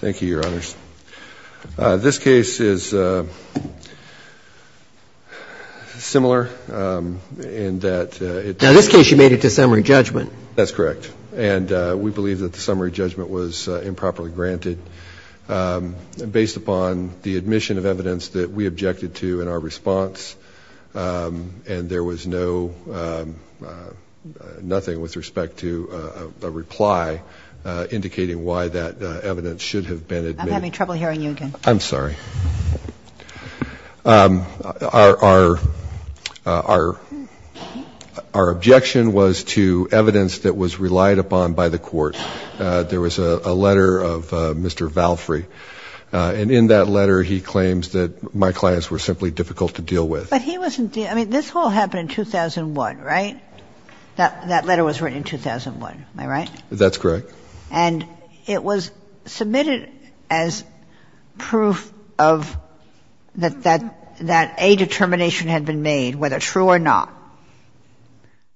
Thank you, Your Honors. This case is similar in that it In this case you made it to summary judgment. That's correct. And we believe that the summary judgment was improperly granted based upon the admission of evidence that we objected to in our response and there was no, nothing with respect to a reply indicating why that evidence should have been admitted. I'm having trouble hearing you again. I'm sorry. Our objection was to evidence that was relied upon by the court. There was a letter of Mr. Valfrey and in that letter he claims that my clients were simply difficult to deal with. But he wasn't the, I mean, this all happened in 2001, right? That letter was written in 2001. Am I right? That's correct. And it was submitted as proof of that a determination had been made, whether true or not,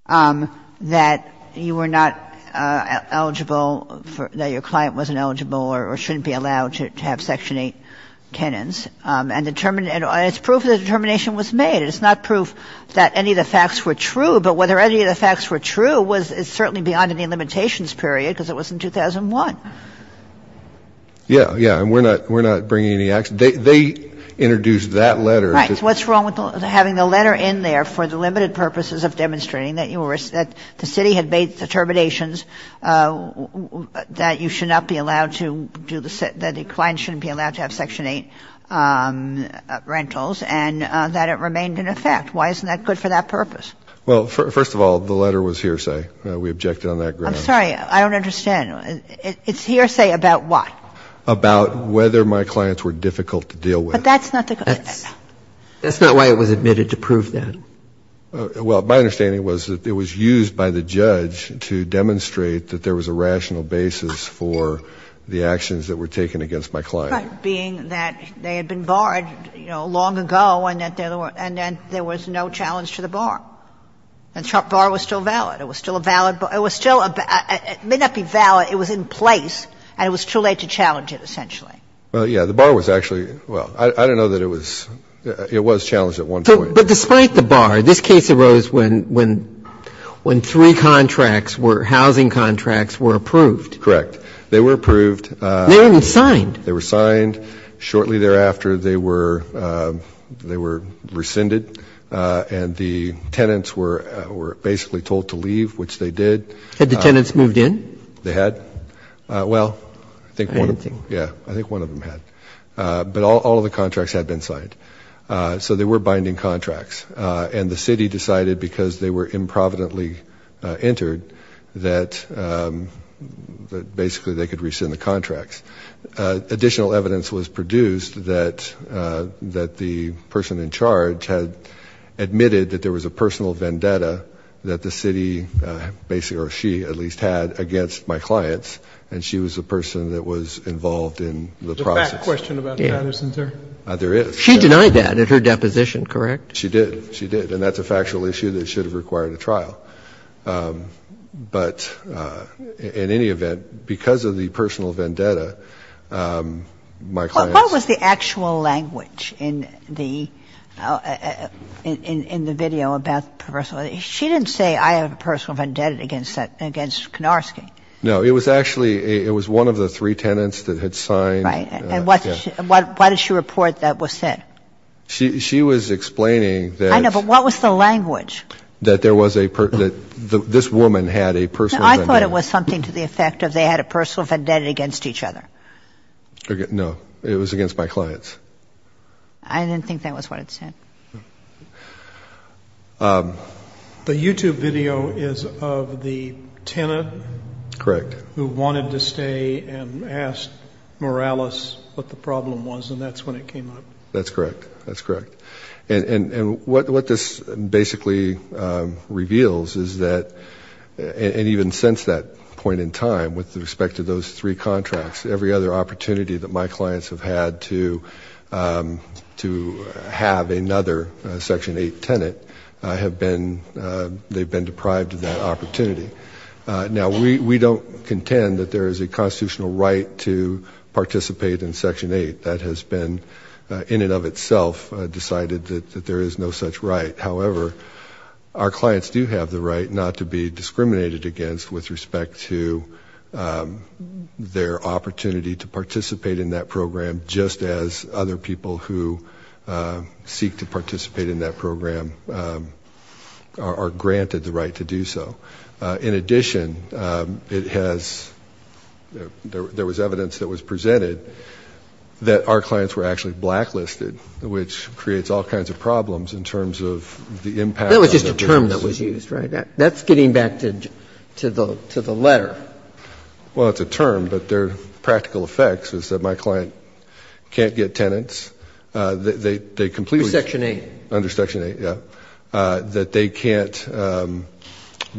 that you were not eligible, that your client wasn't eligible or shouldn't be allowed to have Section 8 Kenans. And it's proof that a determination was made. It's not proof that any of the facts were true. But whether any of the facts were true was certainly beyond any limitations period because it was in 2001. Yeah, yeah. And we're not bringing any action. They introduced that letter. Right. What's wrong with having the letter in there for the limited purposes of demonstrating that you were, that the city had made determinations that you should not be allowed to do, that a client shouldn't be allowed to have Section 8 rentals and that it remained in effect. Why isn't that good for that purpose? Well, first of all, the letter was hearsay. We objected on that grounds. I'm sorry. I don't understand. It's hearsay about what? About whether my clients were difficult to deal with. But that's not the question. That's not why it was admitted to prove that. Well, my understanding was that it was used by the judge to demonstrate that there was a rational basis for the actions that were taken against my client. Right. Being that they had been barred, you know, long ago and that there were no challenge to the bar. And the bar was still valid. It was still a valid bar. It was still a bar. It may not be valid. It was in place. And it was too late to challenge it, essentially. Well, yeah. The bar was actually, well, I don't know that it was challenged at one point. But despite the bar, this case arose when three contracts were, housing contracts were approved. Correct. They were approved. They weren't even signed. They were signed. Shortly thereafter, they were rescinded. And the tenants were basically told to leave, which they did. Had the tenants moved in? They had. Well, I think one of them, yeah, I think one of them had. But all of the And the city decided, because they were improvidently entered, that basically they could rescind the contracts. Additional evidence was produced that the person in charge had admitted that there was a personal vendetta that the city basically, or she at least, had against my clients. And she was the person that was involved in the process. Is there a fact question about Patterson, sir? There is. She denied that at her deposition, correct? She did. She did. And that's a factual issue that should have required a trial. But in any event, because of the personal vendetta, my clients... What was the actual language in the video about the personal vendetta? She didn't say, I have a personal vendetta against that, against Kunarski. No, it was actually, it was one of the three tenants that had signed. Right. And what, why did she report that was said? She was explaining that... I know, but what was the language? That there was a, that this woman had a personal vendetta. No, I thought it was something to the effect of they had a personal vendetta against each other. No, it was against my clients. I didn't think that was what it said. The YouTube video is of the tenant... Correct. ...who wanted to stay and asked Morales what the problem was. And that's when it came up. That's correct. That's correct. And what this basically reveals is that, and even since that point in time, with respect to those three contracts, every other opportunity that my clients have had to have another Section 8 tenant, they've been deprived of that opportunity. Now, we don't contend that there is a constitutional right to participate in Section 8. That has been, in and of itself, decided that there is no such right. However, our clients do have the right not to be discriminated against with respect to their opportunity to participate in that program, just as other people who seek to participate in that program are granted the right to do so. In addition, it has, there was evidence that was presented that our clients were actually blacklisted, which creates all kinds of problems in terms of the impact... That was just a term that was used, right? That's getting back to the letter. Well, it's a term, but their practical effects is that my client can't get tenants, they complete... Under Section 8. Under Section 8, yeah, that they can't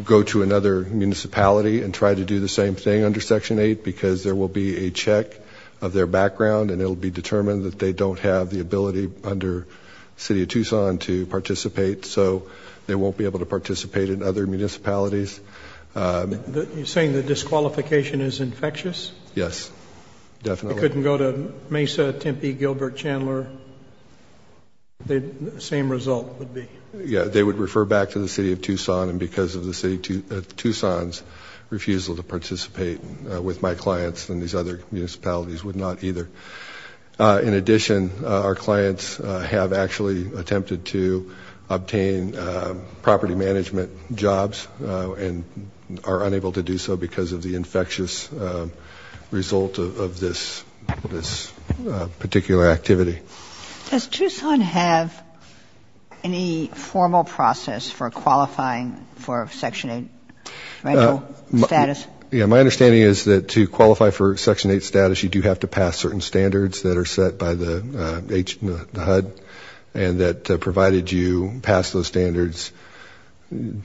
go to another municipality and try to do the same thing under Section 8, because there will be a check of their background, and it'll be determined that they don't have the ability under City of Tucson to participate, so they won't be able to participate in other municipalities. You're saying the disqualification is infectious? Yes, definitely. They couldn't go to Mesa, Tempe, Gilbert, Chandler, the same result would be... Yeah, they would refer back to the City of Tucson, and because of the City of Tucson's refusal to participate with my clients and these other municipalities would not either. In addition, our clients have actually attempted to obtain property management jobs and are unable to do so because of the infectious result of this particular activity. Does Tucson have any formal process for qualifying for Section 8 rental status? Yeah, my understanding is that to qualify for Section 8 status, you do have to pass certain standards that are set by the HUD, and that provided you pass those standards,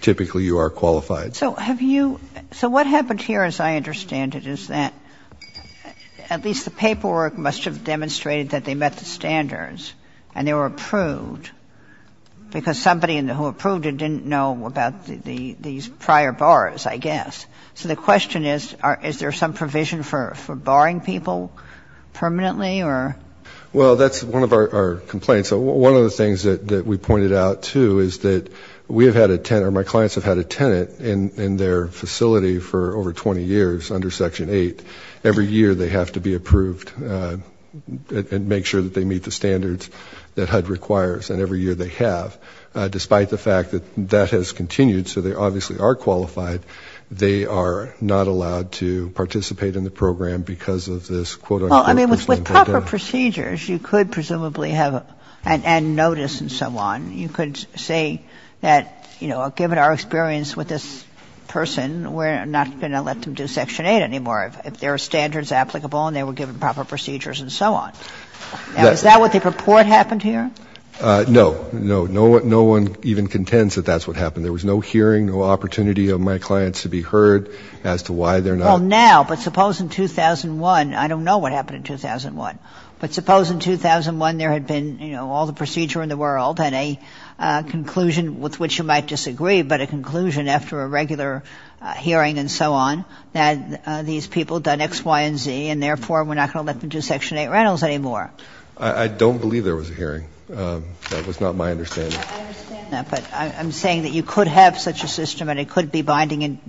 typically you are qualified. So what happened here, as I understand it, is that at least the paperwork must have demonstrated that they met the standards, and they were approved, because somebody who approved it didn't know about these prior bars, I guess. So the question is, is there some provision for barring people permanently? Well, that's one of our complaints. So one of the things that we pointed out, too, is that we have had a tenant, or my clients have had a tenant in their facility for over 20 years under Section 8. Every year, they have to be approved and make sure that they meet the standards that HUD requires, and every year they have. Despite the fact that that has continued, so they obviously are qualified, they are not allowed to participate in the program because of this quote-unquote... Kagan. But given proper procedures, you could presumably have, and notice and so on, you could say that, you know, given our experience with this person, we're not going to let them do Section 8 anymore if their standard is applicable and they were given proper procedures and so on. Now, is that what they purport happened here? No. No. No one even contends that that's what happened. There was no hearing, no opportunity of my clients to be heard as to why they're not... Well, now, but suppose in 2001, I don't know what happened in 2001, but suppose in 2001 there had been, you know, all the procedure in the world and a conclusion with which you might disagree, but a conclusion after a regular hearing and so on, that these people done X, Y, and Z, and therefore we're not going to let them do Section 8 rentals anymore. I don't believe there was a hearing. That was not my understanding. I understand that, but I'm saying that you could have such a system and it could be binding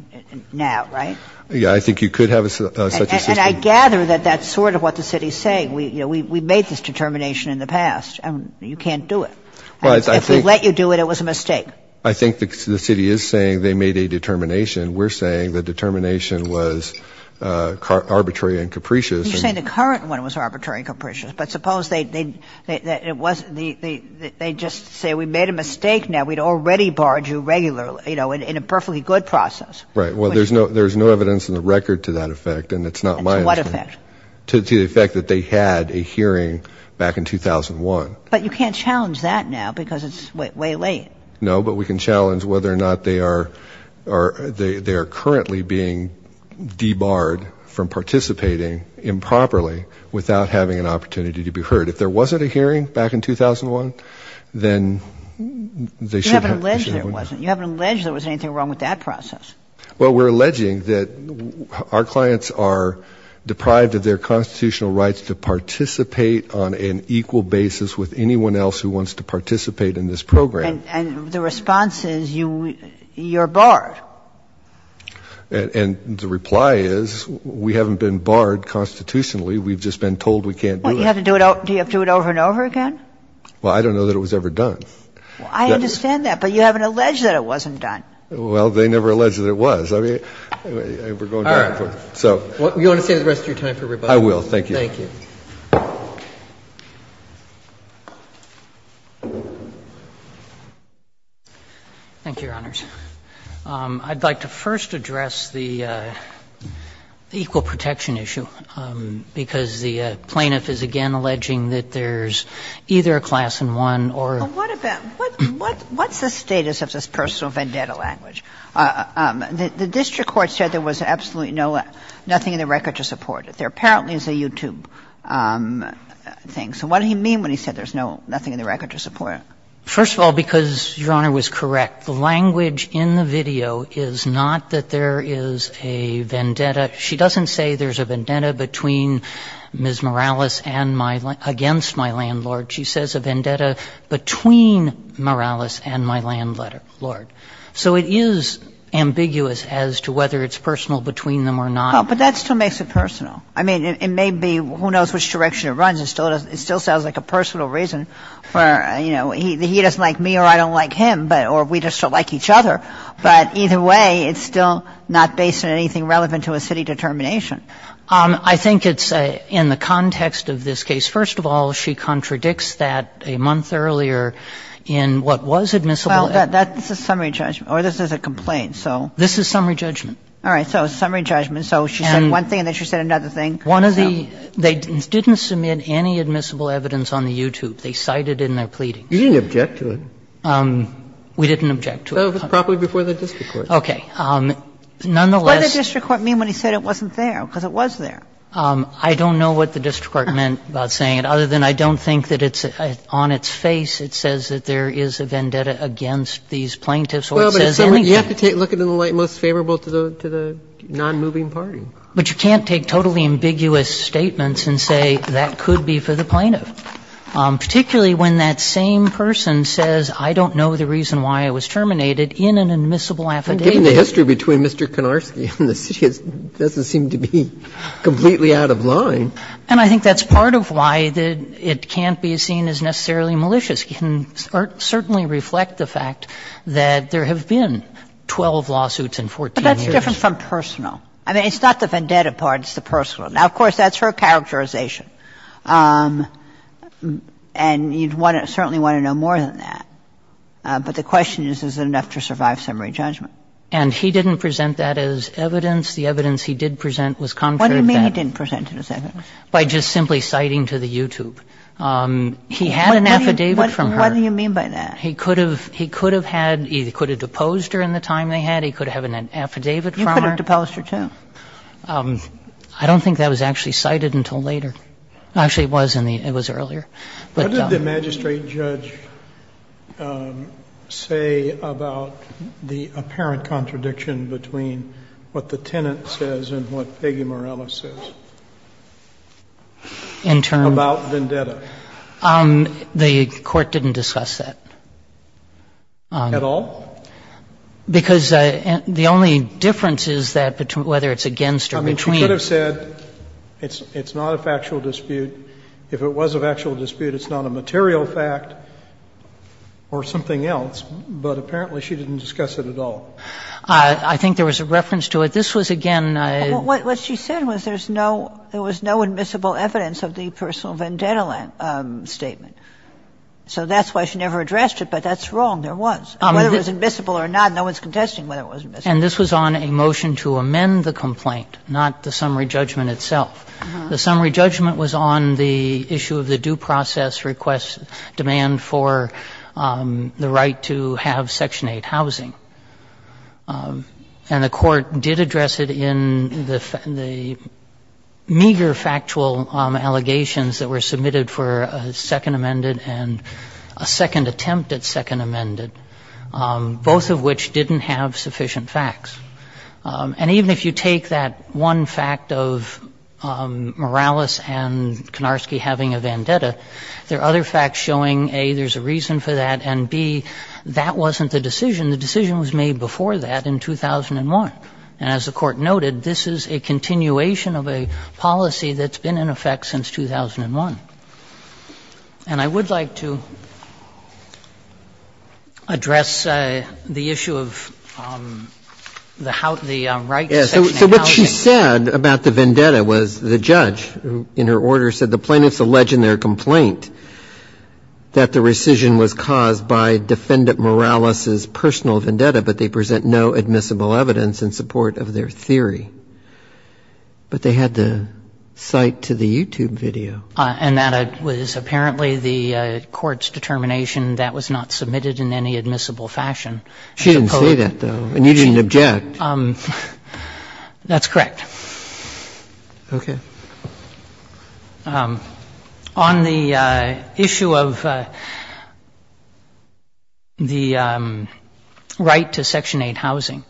now, right? Yeah, I think you could have such a system. And I gather that that's sort of what the city is saying. We made this determination in the past and you can't do it. If we let you do it, it was a mistake. I think the city is saying they made a determination. We're saying the determination was arbitrary and capricious. You're saying the current one was arbitrary and capricious, but suppose they just say we made a mistake now. We'd already barred you regularly, you know, in a perfectly good process. Right. Well, there's no evidence in the record to that effect and it's not my understanding. To what effect? To the effect that they had a hearing back in 2001. But you can't challenge that now because it's way late. No, but we can challenge whether or not they are currently being debarred from participating improperly without having an opportunity to be heard. If there wasn't a hearing back in 2001, then they shouldn't have. You haven't alleged there wasn't. You haven't alleged there was anything wrong with that process. Well, we're alleging that our clients are deprived of their constitutional rights to participate on an equal basis with anyone else who wants to participate in this program. And the response is you're barred. And the reply is we haven't been barred constitutionally. We've just been told we can't do that. Well, do you have to do it over and over again? Well, I don't know that it was ever done. I understand that, but you haven't alleged that it wasn't done. Well, they never alleged that it was. I mean, we're going back and forth. All right. You want to save the rest of your time for rebuttal? I will. Thank you. Thank you. Thank you, Your Honors. I'd like to first address the equal protection issue, because the plaintiff is again alleging that there's either a class in one or. What's the status of this personal vendetta language? The district court said there was absolutely no, nothing in the record to support it. There apparently is a YouTube thing. So what did he mean when he said there's nothing in the record to support it? First of all, because Your Honor was correct, the language in the video is not that there is a vendetta. She doesn't say there's a vendetta between Ms. Morales and my, against my landlord. She says a vendetta between Morales and my landlord. So it is ambiguous as to whether it's personal between them or not. But that still makes it personal. I mean, it may be, who knows which direction it runs. It still sounds like a personal reason for, you know, he doesn't like me or I don't like him, or we just don't like each other. But either way, it's still not based on anything relevant to a city determination. I think it's in the context of this case. First of all, she contradicts that a month earlier in what was admissible. Well, that's a summary judgment. Or this is a complaint, so. This is summary judgment. All right. So summary judgment. So she said one thing and then she said another thing. One of the, they didn't submit any admissible evidence on the YouTube. They cited it in their pleadings. You didn't object to it. We didn't object to it. Probably before the district court. Okay. Nonetheless. What did the district court mean when he said it wasn't there? Because it was there. I don't know what the district court meant by saying it, other than I don't think that it's on its face it says that there is a vendetta against these plaintiffs or it says anything. Well, but you have to look at it in the light most favorable to the nonmoving party. But you can't take totally ambiguous statements and say that could be for the plaintiff, particularly when that same person says I don't know the reason why I was terminated in an admissible affidavit. Given the history between Mr. Konarski and the city, it doesn't seem to be completely out of line. And I think that's part of why it can't be seen as necessarily malicious. It can certainly reflect the fact that there have been 12 lawsuits in 14 years. But that's different from personal. I mean, it's not the vendetta part. It's the personal. Now, of course, that's her characterization. And you certainly want to know more than that. But the question is, is it enough to survive summary judgment? And he didn't present that as evidence. The evidence he did present was contrary to that. What do you mean he didn't present it as evidence? By just simply citing to the YouTube. He had an affidavit from her. What do you mean by that? He could have had, he could have deposed her in the time they had. He could have had an affidavit from her. You could have deposed her, too. I don't think that was actually cited until later. Actually, it was in the, it was earlier. What did the magistrate judge say about the apparent contradiction between what the tenant says and what Peggy Morella says? In terms of? About vendetta. The Court didn't discuss that. At all? Because the only difference is that whether it's against or between. She could have said it's not a factual dispute. If it was a factual dispute, it's not a material fact or something else, but apparently she didn't discuss it at all. I think there was a reference to it. This was, again. What she said was there's no, there was no admissible evidence of the personal vendetta statement. So that's why she never addressed it, but that's wrong. There was. Whether it was admissible or not, no one's contesting whether it was admissible. And this was on a motion to amend the complaint, not the summary judgment itself. The summary judgment was on the issue of the due process request demand for the right to have Section 8 housing. And the Court did address it in the meager factual allegations that were submitted for a second amended and a second attempt at second amended, both of which didn't have sufficient facts. And even if you take that one fact of Morales and Konarski having a vendetta, there are other facts showing, A, there's a reason for that, and, B, that wasn't the decision. The decision was made before that in 2001. And as the Court noted, this is a continuation of a policy that's been in effect since 2001. And I would like to address the issue of the right to Section 8 housing. Yeah. So what she said about the vendetta was the judge, in her order, said the plaintiffs allege in their complaint that the rescission was caused by Defendant Morales's personal vendetta, but they present no admissible evidence in support of their theory. But they had the site to the YouTube video. And that was apparently the Court's determination. That was not submitted in any admissible fashion. She didn't say that, though. And you didn't object. That's correct. Okay. On the issue of the right to Section 8 housing.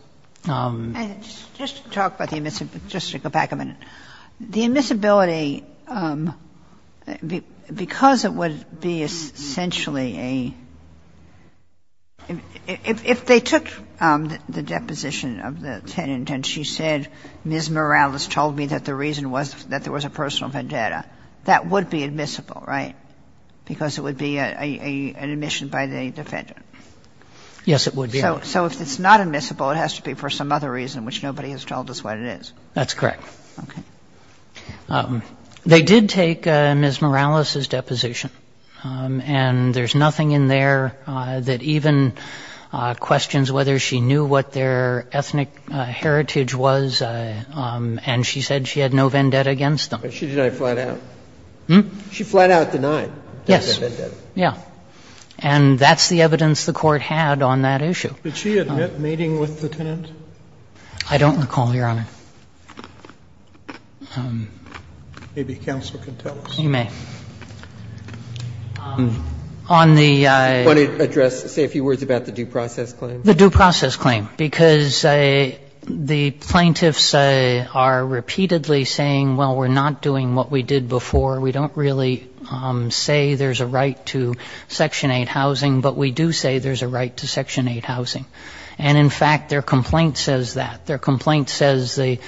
And just to talk about the admissibility, just to go back a minute. The admissibility, because it would be essentially a ‑‑ if they took the deposition of the tenant and she said Ms. Morales told me that the reason was that there was a personal vendetta, that would be admissible, right, because it would be an admission by the defendant? Yes, it would be. So if it's not admissible, it has to be for some other reason which nobody has told us what it is. That's correct. Okay. They did take Ms. Morales's deposition. And there's nothing in there that even questions whether she knew what their ethnic heritage was and she said she had no vendetta against them. Hmm? She flat out denied. Yes. Yes. And that's the evidence the Court had on that issue. Did she admit mating with the tenant? I don't recall, Your Honor. Maybe counsel can tell us. You may. On the ‑‑ I want to address, say a few words about the due process claim. The due process claim. Because the plaintiffs are repeatedly saying, well, we're not doing what we did before. We don't really say there's a right to Section 8 housing. But we do say there's a right to Section 8 housing. And, in fact, their complaint says that. Their complaint says the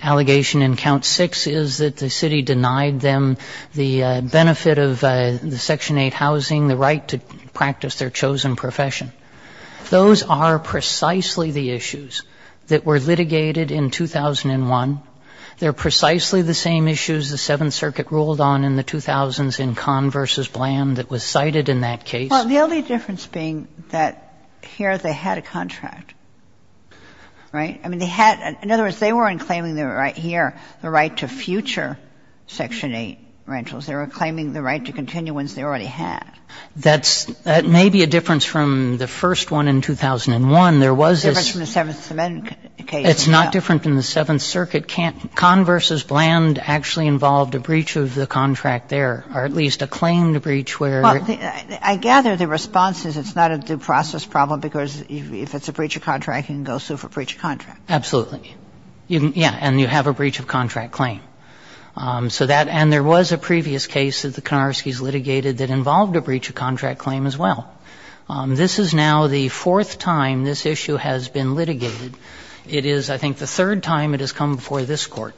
allegation in Count 6 is that the city denied them the benefit of the Section 8 housing, the right to practice their chosen profession. Those are precisely the issues that were litigated in 2001. They're precisely the same issues the Seventh Circuit ruled on in the 2000s in Conn v. Bland that was cited in that case. Well, the only difference being that here they had a contract. Right? I mean, they had ‑‑ in other words, they weren't claiming the right here, the right to future Section 8 rentals. They were claiming the right to continue ones they already had. That's ‑‑ that may be a difference from the first one in 2001. There was this ‑‑ A difference from the Seventh Amendment case. It's not different from the Seventh Circuit. Conn v. Bland actually involved a breach of the contract there, or at least a claim to breach where ‑‑ Well, I gather the response is it's not a due process problem because if it's a breach of contract, you can go sue for breach of contract. Absolutely. Yeah. And you have a breach of contract claim. So that ‑‑ and there was a previous case that the Konarskis litigated that involved a breach of contract claim as well. This is now the fourth time this issue has been litigated. It is, I think, the third time it has come before this Court.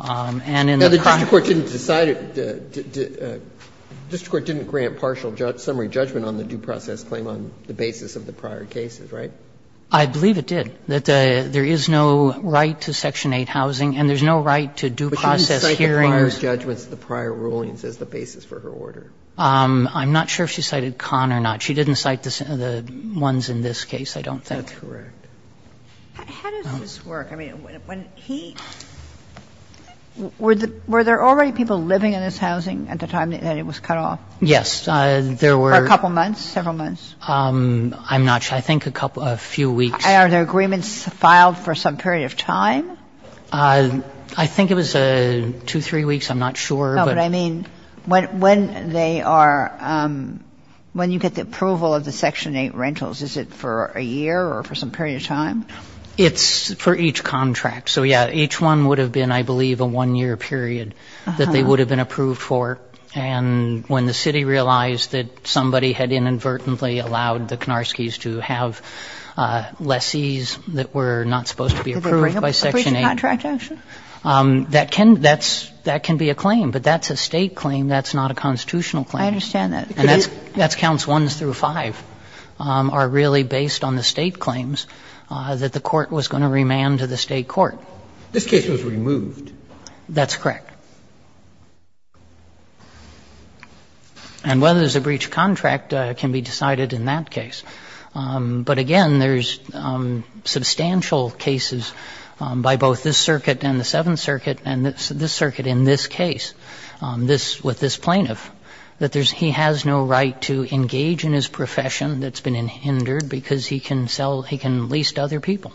And in the ‑‑ Now, the district court didn't decide it ‑‑ the district court didn't grant partial summary judgment on the due process claim on the basis of the prior cases, right? I believe it did. That there is no right to Section 8 housing and there's no right to due process hearings. But she didn't cite the prior judgments, the prior rulings as the basis for her order. I'm not sure if she cited Conn or not. She didn't cite the ones in this case, I don't think. That's correct. How does this work? I mean, when he ‑‑ were there already people living in this housing at the time that it was cut off? Yes. There were ‑‑ For a couple months, several months? I'm not sure. I think a couple ‑‑ a few weeks. Are there agreements filed for some period of time? I think it was two, three weeks. I'm not sure. But I mean, when they are ‑‑ when you get the approval of the Section 8 rentals, is it for a year or for some period of time? It's for each contract. So, yeah, each one would have been, I believe, a one‑year period that they would have been approved for. And when the city realized that somebody had inadvertently allowed the Konarskis to have lessees that were not supposed to be approved by Section 8. Did they bring up a breach of contract action? That can be a claim. But that's a state claim. That's not a constitutional claim. I understand that. And that's counts ones through five are really based on the state claims that the court was going to remand to the state court. This case was removed. That's correct. And whether there's a breach of contract can be decided in that case. But, again, there's substantial cases by both this circuit and the Seventh Circuit and this circuit in this case, this ‑‑ with this plaintiff, that he has no right to engage in his profession that's been hindered because he can lease to other people.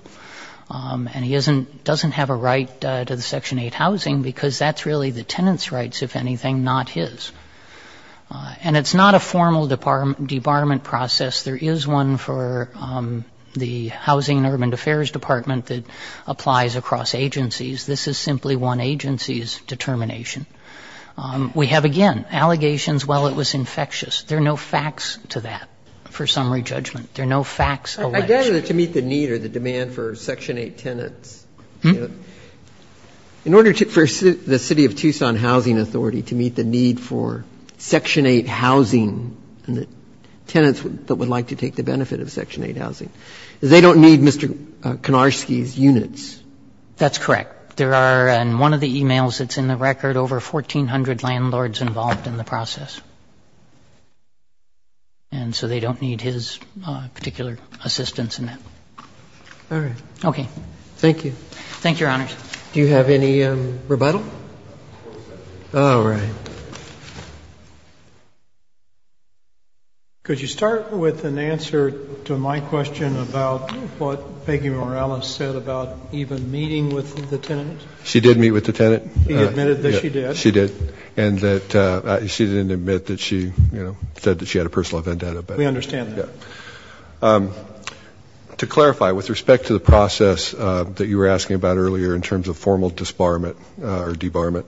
And he doesn't have a right to the Section 8 housing because that's really the tenant's rights, if anything, not his. And it's not a formal debarment process. There is one for the Housing and Urban Affairs Department that applies across agencies. This is simply one agency's determination. We have, again, allegations, well, it was infectious. There are no facts to that for summary judgment. There are no facts alleged. I gather that to meet the need or the demand for Section 8 tenants, in order for the City of Tucson Housing Authority to meet the need for Section 8 housing and the tenants that would like to take the benefit of Section 8 housing, they don't need Mr. Konarski's units. That's correct. There are, in one of the emails that's in the record, over 1,400 landlords involved in the process. And so they don't need his particular assistance in that. All right. Okay. Thank you. Thank you, Your Honors. Do you have any rebuttal? Oh, right. Could you start with an answer to my question about what Peggy Morales said about even meeting with the tenant? She did meet with the tenant. He admitted that she did. She did. And that she didn't admit that she, you know, said that she had a personal vendetta. We understand that. Yeah. To clarify, with respect to the process that you were asking about earlier in terms of formal disbarment or debarment,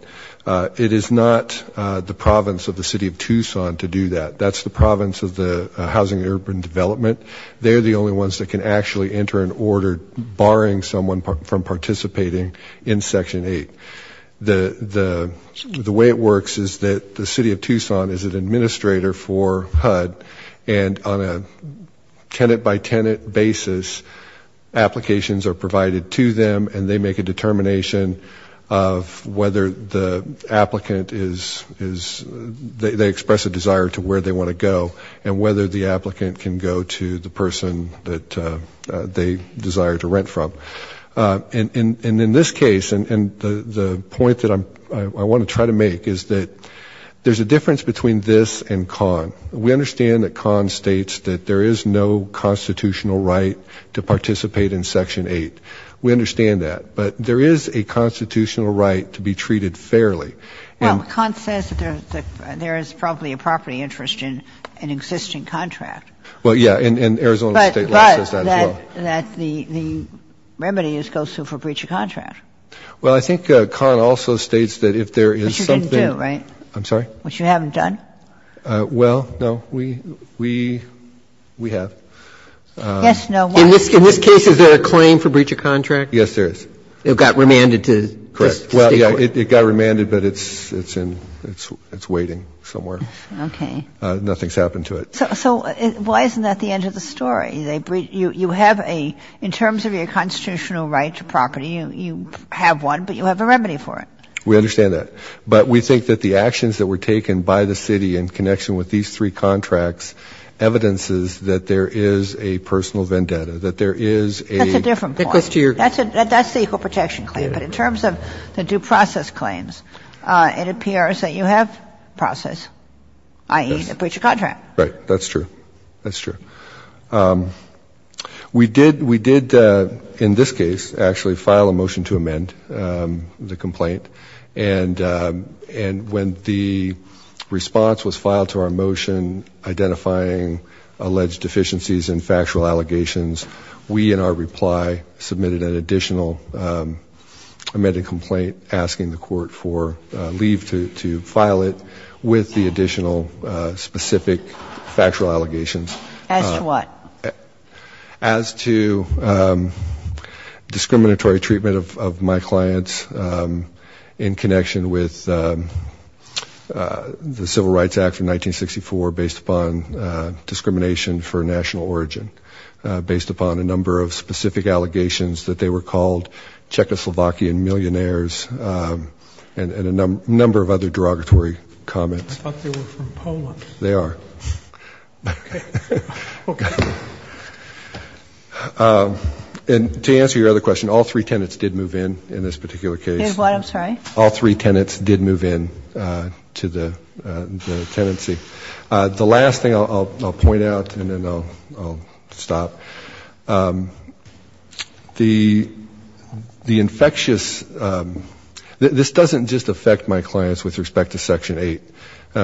it is not the province of the City of Tucson to do that. That's the province of the Housing and Urban Development. They're the only ones that can actually enter an order barring someone from participating in Section 8. The way it works is that the City of Tucson is an administrator for HUD and on a tenant-by-tenant basis, applications are provided to them and they make a determination of whether the applicant is they express a desire to where they want to go and whether the applicant can go to the person that they desire to rent from. And in this case, and the point that I want to try to make is that there's a difference between this and CON. We understand that CON states that there is no constitutional right to participate in Section 8. We understand that. But there is a constitutional right to be treated fairly. Now, CON says that there is probably a property interest in an existing contract. Well, yeah. And Arizona State law says that as well. But that the remedy goes to for breach of contract. Well, I think CON also states that if there is something. Which you didn't do, right? I'm sorry? Which you haven't done? Well, no. We have. Yes, no, why? In this case, is there a claim for breach of contract? Yes, there is. It got remanded to the State court. It got remanded, but it's waiting somewhere. Okay. Nothing's happened to it. So why isn't that the end of the story? You have a ‑‑ in terms of your constitutional right to property, you have one, but you have a remedy for it. We understand that. But we think that the actions that were taken by the City in connection with these three contracts evidences that there is a personal vendetta, that there is a ‑‑ That's a different point. That's the equal protection claim. But in terms of the due process claims, it appears that you have process, i.e., a breach of contract. Right. That's true. That's true. We did, in this case, actually file a motion to amend the complaint. And when the response was filed to our motion identifying alleged deficiencies in factual allegations, we, in our reply, submitted an additional amended complaint asking the court for leave to file it with the additional specific factual allegations. As to what? As to discriminatory treatment of my clients in connection with the Civil Rights Act. And to answer your other question, all three tenants did move in in this particular case. Did what? I'm sorry? All three tenants did move in to the tenancy. I'll stop. The infectious ‑‑ this doesn't just affect my clients with respect to Section 8.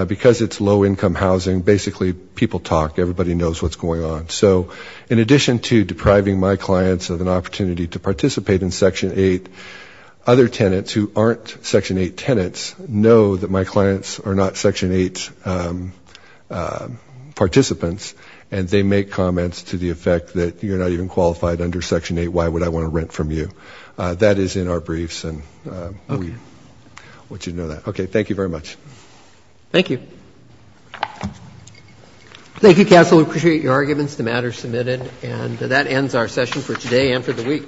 Because it's low income housing, basically people talk, everybody knows what's going on. So in addition to depriving my clients of an opportunity to participate in Section 8, other tenants who aren't Section 8 tenants know that my clients are not even qualified under Section 8, why would I want to rent from you? That is in our briefs. Okay. I want you to know that. Okay. Thank you very much. Thank you. Thank you, counsel. We appreciate your arguments. The matter is submitted. And that ends our session for today and for the week. Thank you. Thank you. Thank you. All rise. This court for this session stands adjourned.